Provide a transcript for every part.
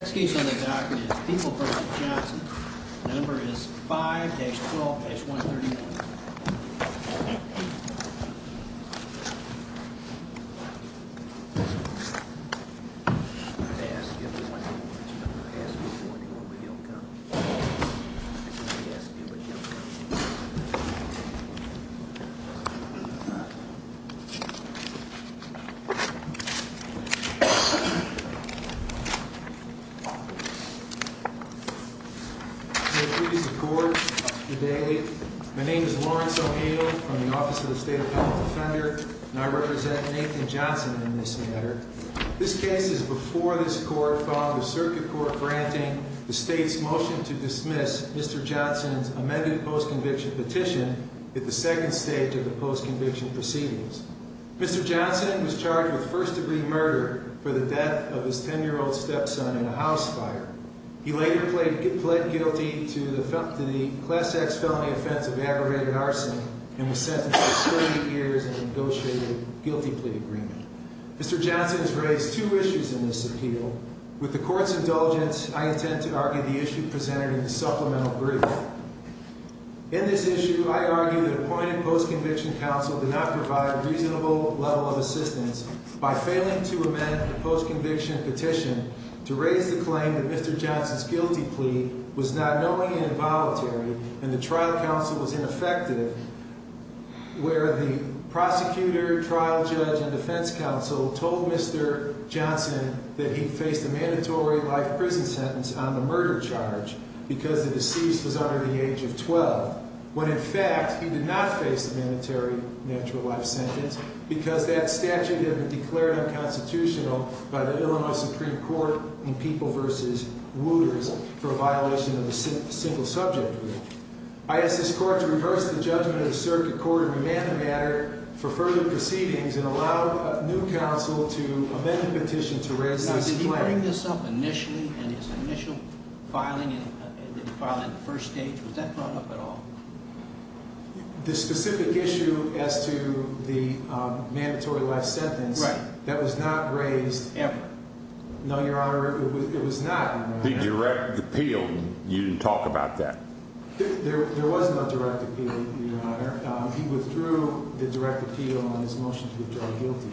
Let's do something super fast. Number is five 12 mm Yes. Mhm Okay. Please support today. My name is Lawrence O'Hale from the Office of the State of and I represent Nathan Johnson in this matter. This case is before this court filed the circuit court granting the state's motion to dismiss Mr Johnson's amended post conviction petition at the second stage of the post conviction proceedings. Mr Johnson was charged with first degree murder for the death of his 10 year old stepson in a house fire. He later played pled guilty to the class X felony offense of aggravated arson and was sentenced 30 years and negotiated guilty plea agreement. Mr Johnson has raised two issues in this appeal with the court's indulgence. I intend to argue the issue presented in the supplemental brief in this issue. I argue that appointed post conviction counsel did not provide reasonable level of assistance by failing to amend the post conviction petition to raise the claim that Mr Johnson's guilty plea was not knowing and involuntary and the trial counsel was ineffective where the prosecutor, trial judge and defense counsel told Mr Johnson that he faced a mandatory life prison sentence on the murder charge because the deceased was under the age of 12 when in fact he did not face the mandatory natural life sentence because that statute declared unconstitutional by the Illinois Supreme Court in people versus wooters for a violation of the single subject. I asked this court to reverse the judgment of the circuit court and remand the matter for further proceedings and allow new counsel to amend the petition to raise this claim. Did he bring this up initially in his initial filing? Did he file it in the first stage? Was that brought up at all? The specific issue as to the mandatory life sentence that was not raised ever. No, your honor, it was not the direct appeal. You talk about that. There was no direct appeal. He withdrew the direct appeal on his motion to withdraw guilty.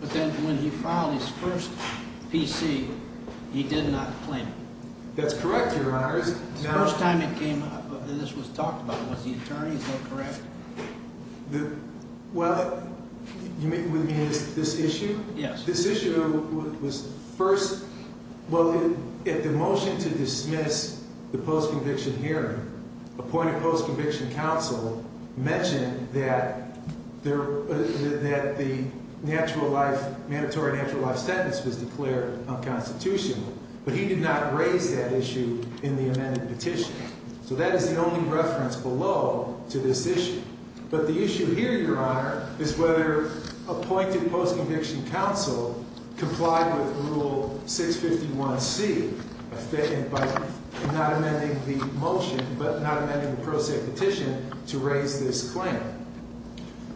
But then when he found his first PC, he did not claim. That's correct. Your honor is the first time it came up. This was talked about with the attorneys. No, correct. The well, you mean this issue? Yes, this issue was first. Well, if the motion to dismiss the post conviction here, appointed post conviction counsel mentioned that there that the natural life mandatory natural life sentence was declared unconstitutional, but he did not raise that issue in the amended petition. So that is the only reference below to this issue. But the issue here, your honor, is whether appointed post conviction counsel complied with Rule 6 51 C by not amending the motion, but not amending the prosaic petition to raise this claim.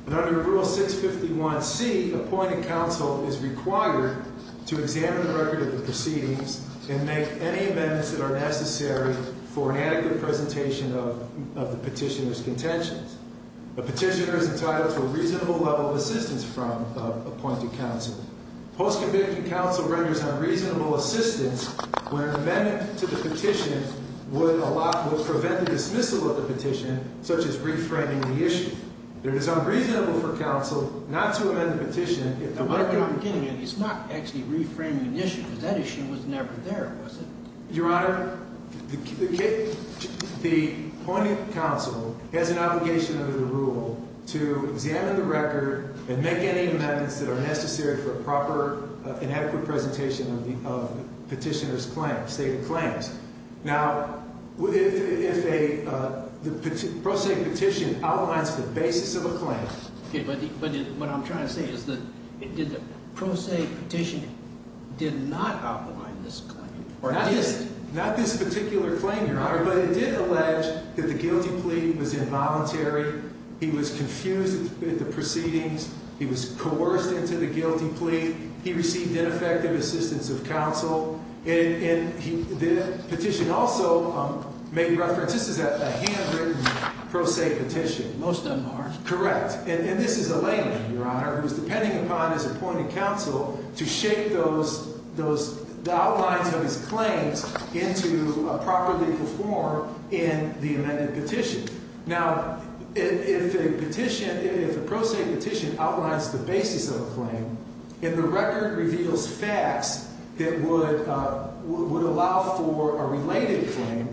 Under Rule 6 51 C, appointed counsel is required to examine the record of the proceedings and make any amendments that are necessary for an adequate presentation of the petitioner's contentions. The petitioner is entitled to a reasonable level of assistance from appointed counsel. Post conviction counsel renders unreasonable assistance when an amendment to the petition would prevent the dismissal of the petition, such as reframing the there is unreasonable for counsel not to amend the petition. It's not actually reframing the issue. That issue was never there, was it? Your honor, the point of counsel has an obligation under the rule to examine the record and make any amendments that are necessary for a proper and adequate presentation of the petitioner's claim stated claims. Now, if a prosaic petition outlines the basis of a claim, but what I'm trying to say is that it did the prosaic petition did not outline this or not this, not this particular claim, your honor, but it did allege that the guilty plea was involuntary. He was confused at the proceedings. He was coerced into the guilty plea. He received ineffective assistance of make reference. This is a handwritten prosaic petition. Most of them are correct. And this is a layman, your honor, who is depending upon his appointed counsel to shape those those outlines of his claims into properly perform in the amended petition. Now, if a petition, if a prosaic petition outlines the basis of a claim in the record reveals facts that would would allow for a related claim.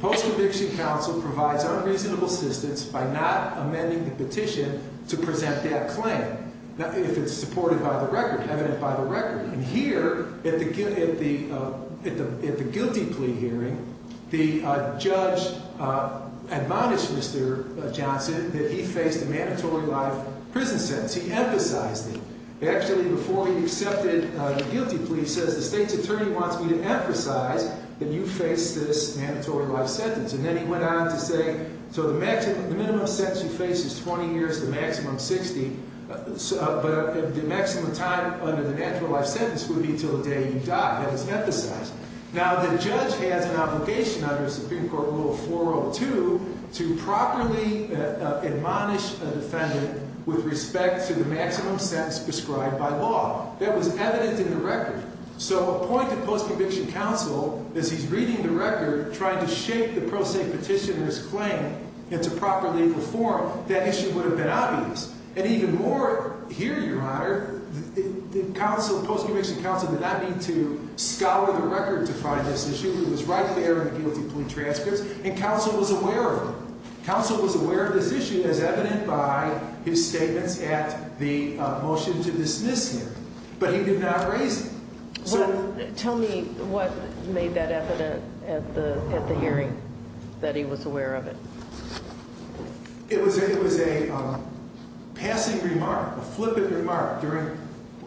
Post Conviction Council provides unreasonable assistance by not amending the petition to present that claim if it's supported by the record evident by the record. And here at the at the at the guilty plea hearing, the judge, uh, admonished Mr Johnson that he faced a mandatory life prison sentence. He emphasized it actually before he says the state's attorney wants me to emphasize that you face this mandatory life sentence. And then he went on to say, so the maximum minimum sense you face is 20 years to maximum 60. But the maximum time under the natural life sentence would be until the day you die. That is emphasized. Now, the judge has an obligation under the Supreme Court Rule 402 to properly admonish a defendant with respect to the maximum sense prescribed by law that was evidence in the record. So a point of Post Conviction Council is he's reading the record trying to shape the prosaic petitioner's claim into proper legal form. That issue would have been obvious. And even more here, your honor, the council Post Conviction Council did not need to scour the record to find this issue. It was right there in the guilty plea transcripts and council was aware of it. Council was aware of this issue as evident by his not raising. So tell me what made that evident at the at the hearing that he was aware of it. It was. It was a passing remark, a flippant remark during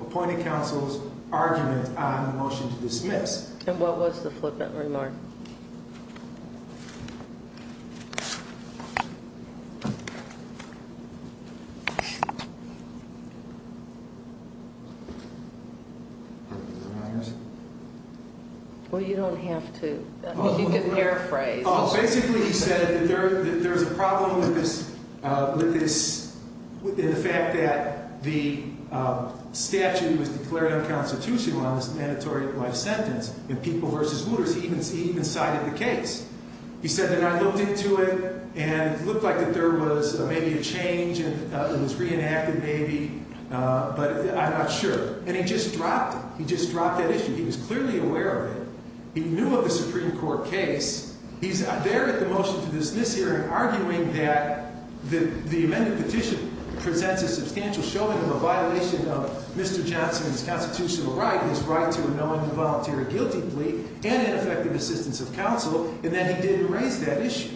appointed counsel's argument on the motion to dismiss. And what was the flippant remark? I guess. Well, you don't have to hear a phrase. Basically, you said that there's a problem with this, uh, with this fact that the statute was declared unconstitutional on this mandatory life sentence and people versus looters even see even cited the case. He said that I looked into it and looked like that there was maybe a change and it was reenacted maybe. But I'm not sure. And he just dropped. He just dropped that issue. He was clearly aware of it. He knew of the Supreme Court case. He's there at the motion to dismiss hearing, arguing that the amended petition presents a substantial showing of a violation of Mr Johnson's constitutional right, his right to anoint the voluntary guilty plea and ineffective assistance of counsel and that he didn't raise that issue.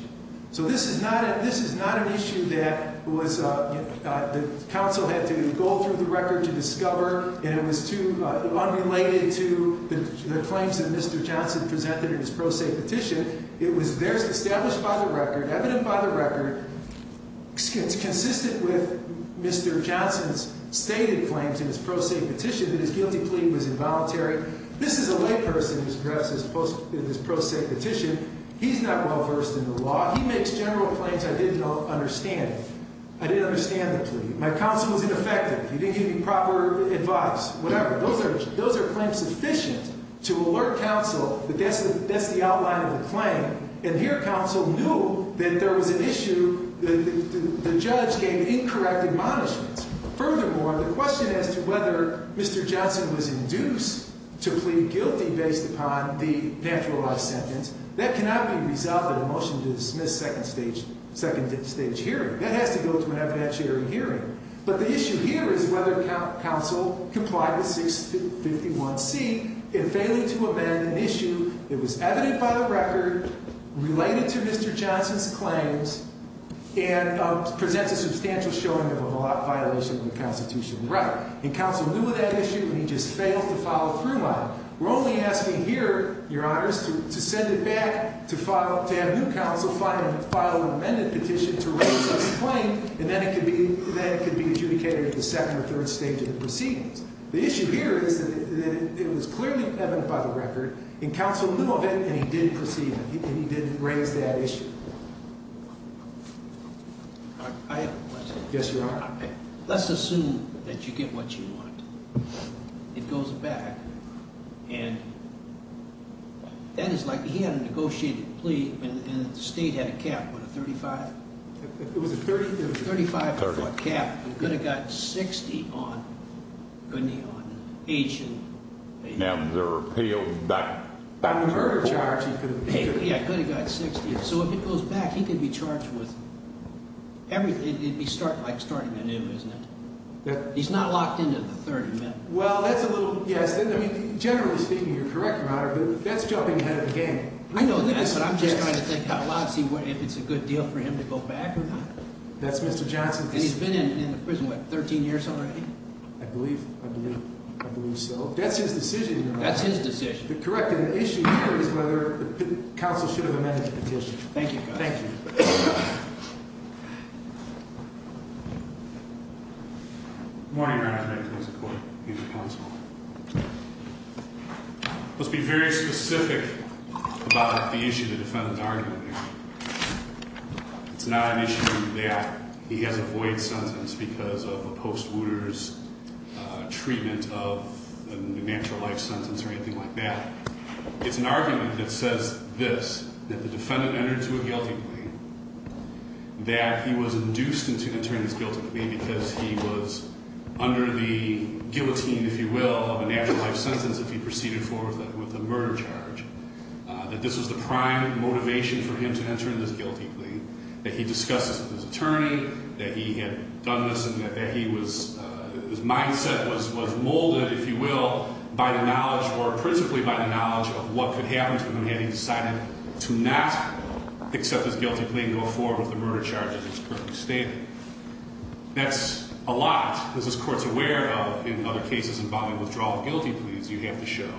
So this is not this is not an issue that was the council had to go through the record to discover, and it was too unrelated to the claims that Mr Johnson presented in his pro se petition. It was there's established by the record evident by the record. It's consistent with Mr Johnson's stated claims in his pro se petition that his guilty plea was involuntary. This is a lay person who's dressed as opposed to this pro se petition. He's not well versed in the law. He makes general claims. I didn't understand it. I didn't understand the plea. My counsel was ineffective. He didn't give me proper advice. Whatever. Those are those are claims sufficient to alert counsel. But that's that's the outline of the claim. And here, counsel knew that there was an issue. The judge gave incorrect admonishments. Furthermore, the question as to whether Mr Johnson was induced to plead guilty based upon the naturalized sentence that cannot be dismissed. Second stage second stage hearing that has to go to an evidentiary hearing. But the issue here is whether counsel complied with 6 51 C and failing to amend an issue. It was evident by the record related to Mr Johnson's claims and presents a substantial showing of a violation of the Constitution. Right. And counsel knew of that issue, and he just failed to follow through on. We're only asking here your honors to send it back to have new counsel finally filed an amended petition to raise a claim, and then it could be that could be adjudicated in the second or third stage of the proceedings. The issue here is that it was clearly evident by the record in counsel knew of it, and he didn't proceed. He didn't raise that issue. I guess you are. Let's assume that you get what you want. It goes back and that is like he had a negotiated plea and the state had a cap of 35. It was a 30 35 cap. You could have got 60 on the neon agent. Now there are appeals back charge. Yeah, good. He got 60. So if it goes back, he could be charged with everything. It'd be start like starting a new, isn't it? He's not locked into the 30. Well, that's a little. Yes. Generally speaking, you're correct, but that's jumping ahead of the game. I know that, but I'm just trying to think how loud see if it's a good deal for him to go back. That's Mr Johnson. He's been in prison with 13 years already. I believe I believe so. That's his decision. That's his decision. Correct. And the issue is whether counsel should have amended the petition. Thank you. Thank you. Mhm. Morning. Let's be very specific about the issue. The defendant's argument. It's not an issue that he has a void sentence because of a post wounders treatment of a natural life sentence or anything like that. It's an argument that says this, that the defendant entered to a guilty plea that he was induced into an attorney's guilty plea because he was under the guillotine, if you will, of a natural life sentence. If he proceeded forward with a murder charge, that this was the prime motivation for him to enter in this guilty plea that he discusses with his attorney that he had done this and that he was his mindset was was molded, if you will, by the knowledge or principally by the knowledge of what could happen to him had he decided to not accept his guilty plea and go forward with the murder charges. It's perfectly stated. That's a lot. This is courts aware of. In other cases involving withdrawal of guilty pleas, you have to show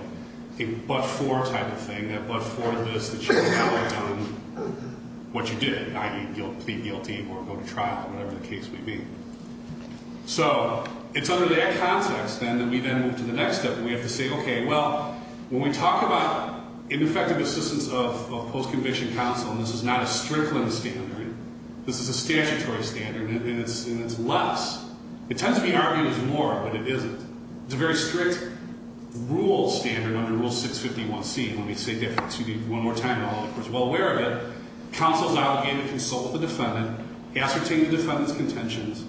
a but for type of thing that but for this, that you have done what you did, i.e. guilt, plead guilty or go to trial, whatever the case may be. So it's under that context, then, that we then move to the next step. We have to say, okay, well, when we talk about ineffective assistance of post-conviction counsel, this is not a strickling standard. This is a statutory standard, and it's less. It tends to be argued as more, but it isn't. It's a very strict rules standard under Rule 651C. Let me say that one more time, all the courts are well aware of it. Counsel is obligated to consult with the defendant, ascertain the defendant's contentions,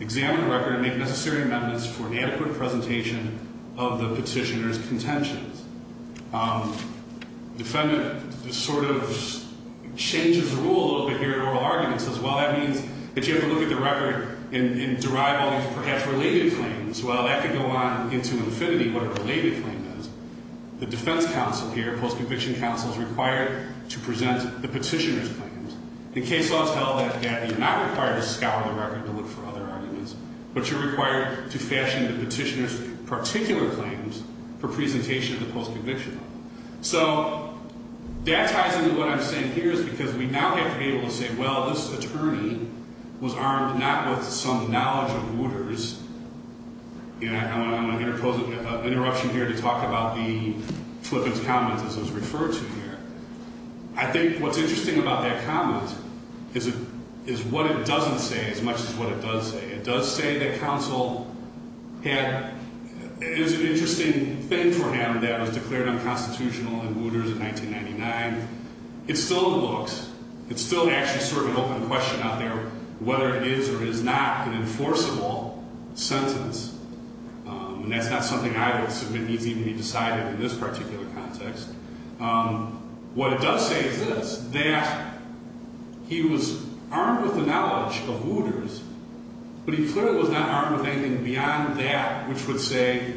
examine the record and make necessary amendments for an adequate presentation of the petitioner's contentions. Defendant sort of changes the rule a little bit here in oral arguments as well. That means that you have to look at the record and derive all these perhaps related claims. Well, that could go on into infinity, what a related claim is. The defense counsel here, post-conviction counsel, is required to present the petitioner's claims. In case law, it's held that you're not required to fashion the petitioner's particular claims for presentation of the post-conviction. So that ties into what I'm saying here is because we now have to be able to say, well, this attorney was armed not with some knowledge of rulers. You know, I'm going to interpose an interruption here to talk about the Flippen's comment, as it was referred to here. I think what's interesting about that comment is what it doesn't say as much as what it does say. It does say that counsel had, there's an interesting thing for him that was declared unconstitutional in Wooters in 1999. It still looks, it's still actually sort of an open question out there whether it is or is not an enforceable sentence. And that's not something I would submit needs even be decided in this particular context. What it does say is this, that he was armed with the knowledge of Wooters, but he clearly was not armed with anything beyond that, which would say,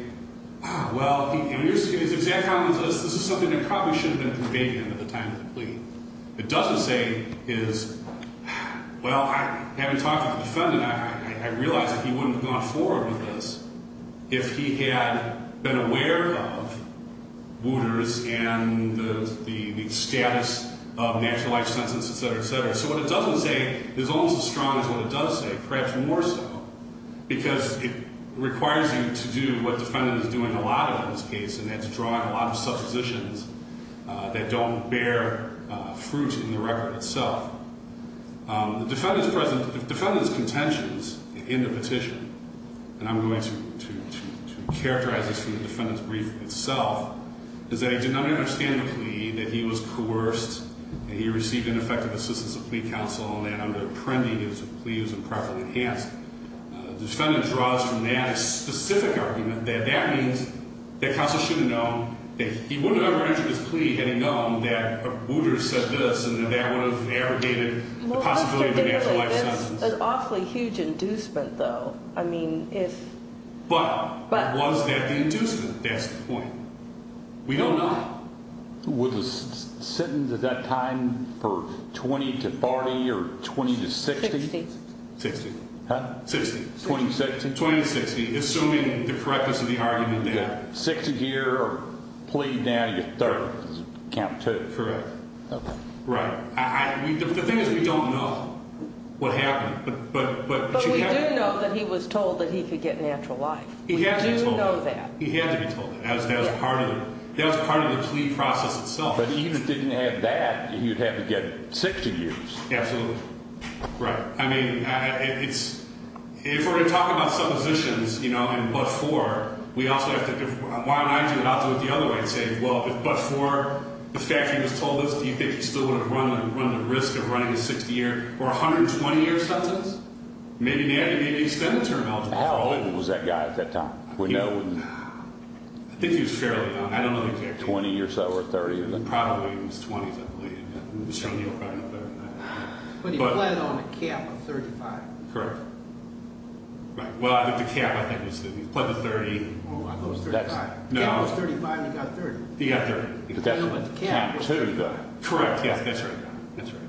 ah, well, in his exact comments, this is something that probably should have been conveyed to him at the time of the plea. It doesn't say is, well, having talked to the defendant, I realized that he wouldn't have gone forward with this if he had been aware of Wooters and the status of nationalized sentences, et cetera, et cetera. So what it doesn't say is almost as strong as what it does say, perhaps more so, because it requires you to do what the defendant is doing a lot of in this case, and that's drawing a lot of suppositions that don't bear fruit in the record itself. The defendant's present, the defendant's contentions in the petition, and I'm going to characterize this from the defendant's brief itself, is that he did not understand the plea, that he was coerced, that he received ineffective assistance of plea counsel, and that under Apprendi, his plea was improperly enhanced. The defendant draws from that a specific argument that that means that counsel should have known that he wouldn't have ever entered his plea had he known that Wooters said this, and that would have aggregated the possibility of a nationalized sentence. Well, that's true, definitely. That's an awfully huge inducement, though. I mean, if... But was that the inducement? That's the point. We don't know. Was the sentence at that time for 20 to 40 or 20 to 60? 60. Huh? 60. 20 to 60? 20 to 60, assuming the correctness of the argument there. 60 here, or plea down to your third, count two. Correct. Okay. Right. The thing is, we don't know what happened, but... But we do know that he was told that he could get natural life. He had to be told that. We do know that. He had to be told that. That was part of the plea process itself. But even if he didn't have that, he would have to get 60 years. Absolutely. Right. I mean, it's... If we're going to talk about suppositions, you know, and but for, we also have to... Why don't I do it? I'll do it the other way and say, well, if but for, the fact that he was told this, do you think he still would have run the risk of running a 60-year or 120-year sentence? Maybe not. Maybe he spent a term eligible. How old was that guy at that time? I think he was fairly young. I don't know the exact... 20 or so, or 30, isn't it? Probably in his 20s, I believe. But he pled on a cap of 35. Correct. Right. Well, the cap, I think, was that he pled the 30. Oh, I thought it was 35. No. The cap was 35, and he got 30. He got 30. But the cap was 30, though. Correct. Yes, that's right. That's right.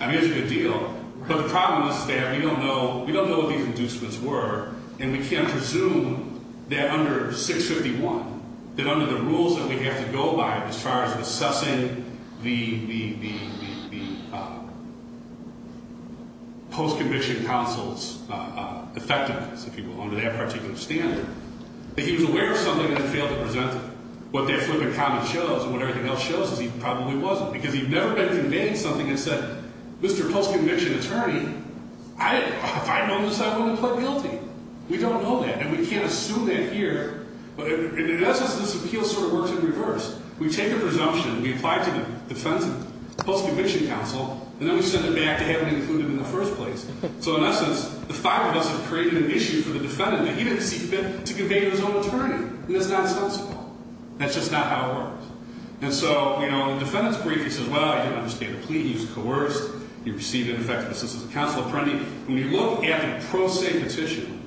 I mean, it's a good deal. But the problem is, Staff, we don't know, we don't know what these inducements were, and we can't presume that under 651, that under the rules that we have to go by, as far as assessing the post-conviction counsel's effectiveness, if you will, under that particular standard, that he was aware of something and then failed to present it. What that flippant comment shows, and what everything else shows, is he probably wasn't. Because he'd never been conveying something that said, Mr. Post-conviction attorney, if I'd known this, I wouldn't have pled guilty. We don't know that, and we can't assume that here. In essence, this appeal sort of works in reverse. We take a presumption, we apply it to the defendant's post-conviction counsel, and then we send it back to have it included in the first place. So, in essence, the five of us have created an issue for the defendant that he didn't see fit to convey to his own attorney. And that's not sensible. That's just not how it works. And so, you know, in the defendant's brief, he says, Well, I didn't understand the plea. He was coerced. He received ineffective assistance of counsel. Apprendi, when you look at the pro se petition,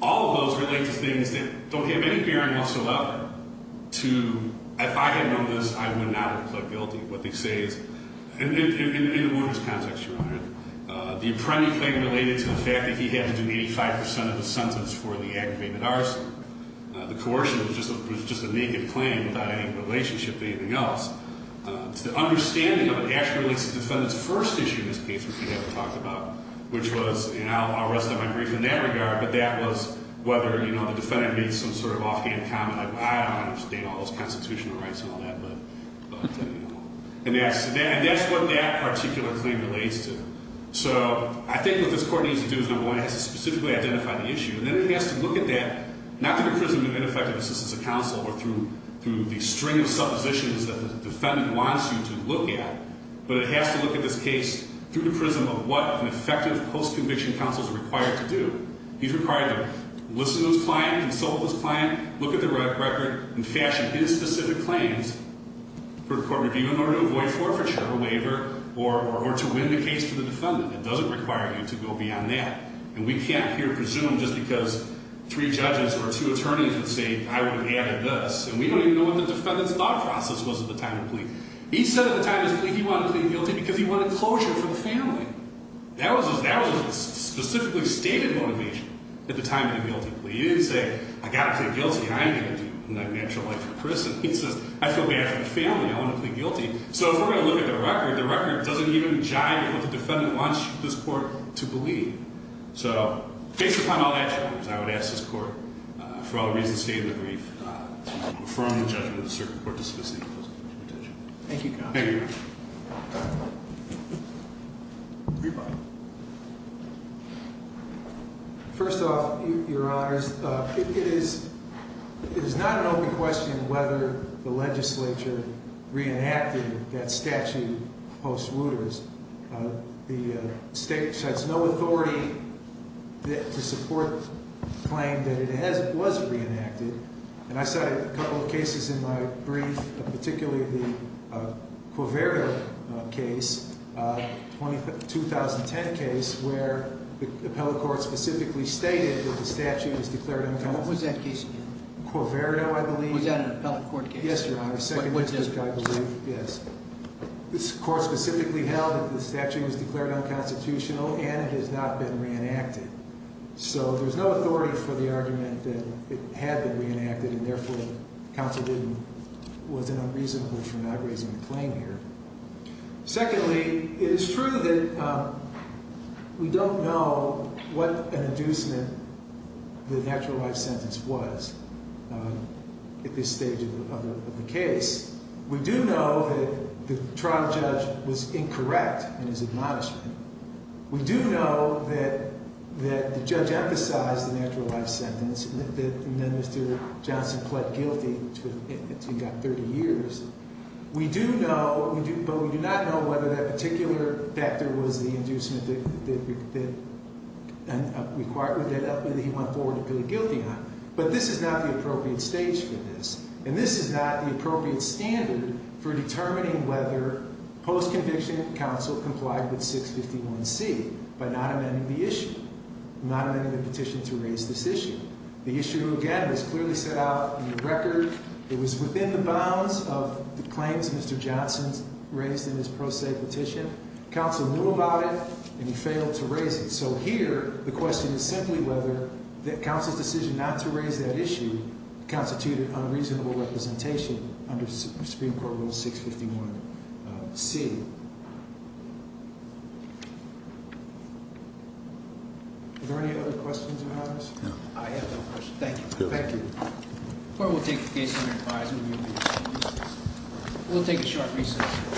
all of those relate to things that don't have any bearing whatsoever to, if I had known this, I would not have pled guilty. What they say is, in the workers' context, Your Honor, the Apprendi claim related to the fact that he had to do 85% of the sentence for the aggravated arson. The coercion was just a naked claim without any relationship to anything else. The understanding of it actually relates to the defendant's first issue in this case, which we haven't talked about, which was, and I'll rest on my brief in that regard, but that was whether, you know, the defendant made some sort of offhand comment like, I don't understand all those constitutional rights and all that, but, you know. And that's what that particular claim relates to. So, I think what this court needs to do is, number one, it has to specifically identify the issue. And then it has to look at that, not through imprisonment of ineffective assistance of counsel or through the string of suppositions that the defendant wants you to look at, but it has to look at this case through the prism of what an effective post-conviction counsel is required to do. He's required to listen to his client, consult with his client, look at the record, and fashion his specific claims for court review in order to avoid forfeiture, waiver, or to win the case for the defendant. It doesn't require you to go beyond that. And we can't here presume just because three judges or two attorneys would say, I would have added this. And we don't even know what the defendant's thought process was at the time of the plea. He said at the time of his plea he wanted to plead guilty because he wanted closure for the family. That was his specifically stated motivation at the time of the guilty plea. He didn't say, I've got to plead guilty. I'm going to do a natural life for prison. He says, I feel bad for the family. I want to plead guilty. So, if we're going to look at the record, the record doesn't even jive with the defendant wants this court to plead. So, based upon all that, I would ask this court for all reasons stated in the brief to move a firm judgment of the circuit court to specifically close the case. Thank you. First off, your honors, it is not an open question whether the legislature reenacted that statute post-Wooters. The state has no authority to support the claim that it was reenacted. I cited a couple of cases in my brief, particularly the Quiverio case, a 2010 case where the appellate court specifically stated that the statute was declared unconstitutional. What was that case again? Quiverio, I believe. Was that an appellate court case? Yes, your honors. What's this one? Yes. This court specifically held that the statute was declared unconstitutional and it has not been reenacted. So, there's no authority for the argument that it had been reenacted and therefore counsel was unreasonable for not raising the claim here. Secondly, it is true that we don't know what an inducement the natural life sentence was at this stage of the case. We do know that the trial judge was incorrect in his admonishment. We do know that the judge emphasized the natural life sentence and then Mr. Johnson pled guilty to that 30 years. We do know, but we do not know whether that particular factor was the inducement that required that he went forward and pleaded guilty on. But this is not the appropriate stage for this and this is not the appropriate standard for determining whether post-conviction counsel complied with 651C by not amending the issue, not amending the petition to raise this issue. The issue, again, was clearly set out in the record. It was within the bounds of the claims Mr. Johnson raised in his pro se petition. Counsel knew about it and he failed to raise it. So here, the question is simply whether counsel's decision not to raise that issue constituted unreasonable representation under Supreme Court Rule 651C. Are there any other questions or comments? No. I have no questions. Thank you. Thank you. The court will take the case under advisory review. We'll take a short recess.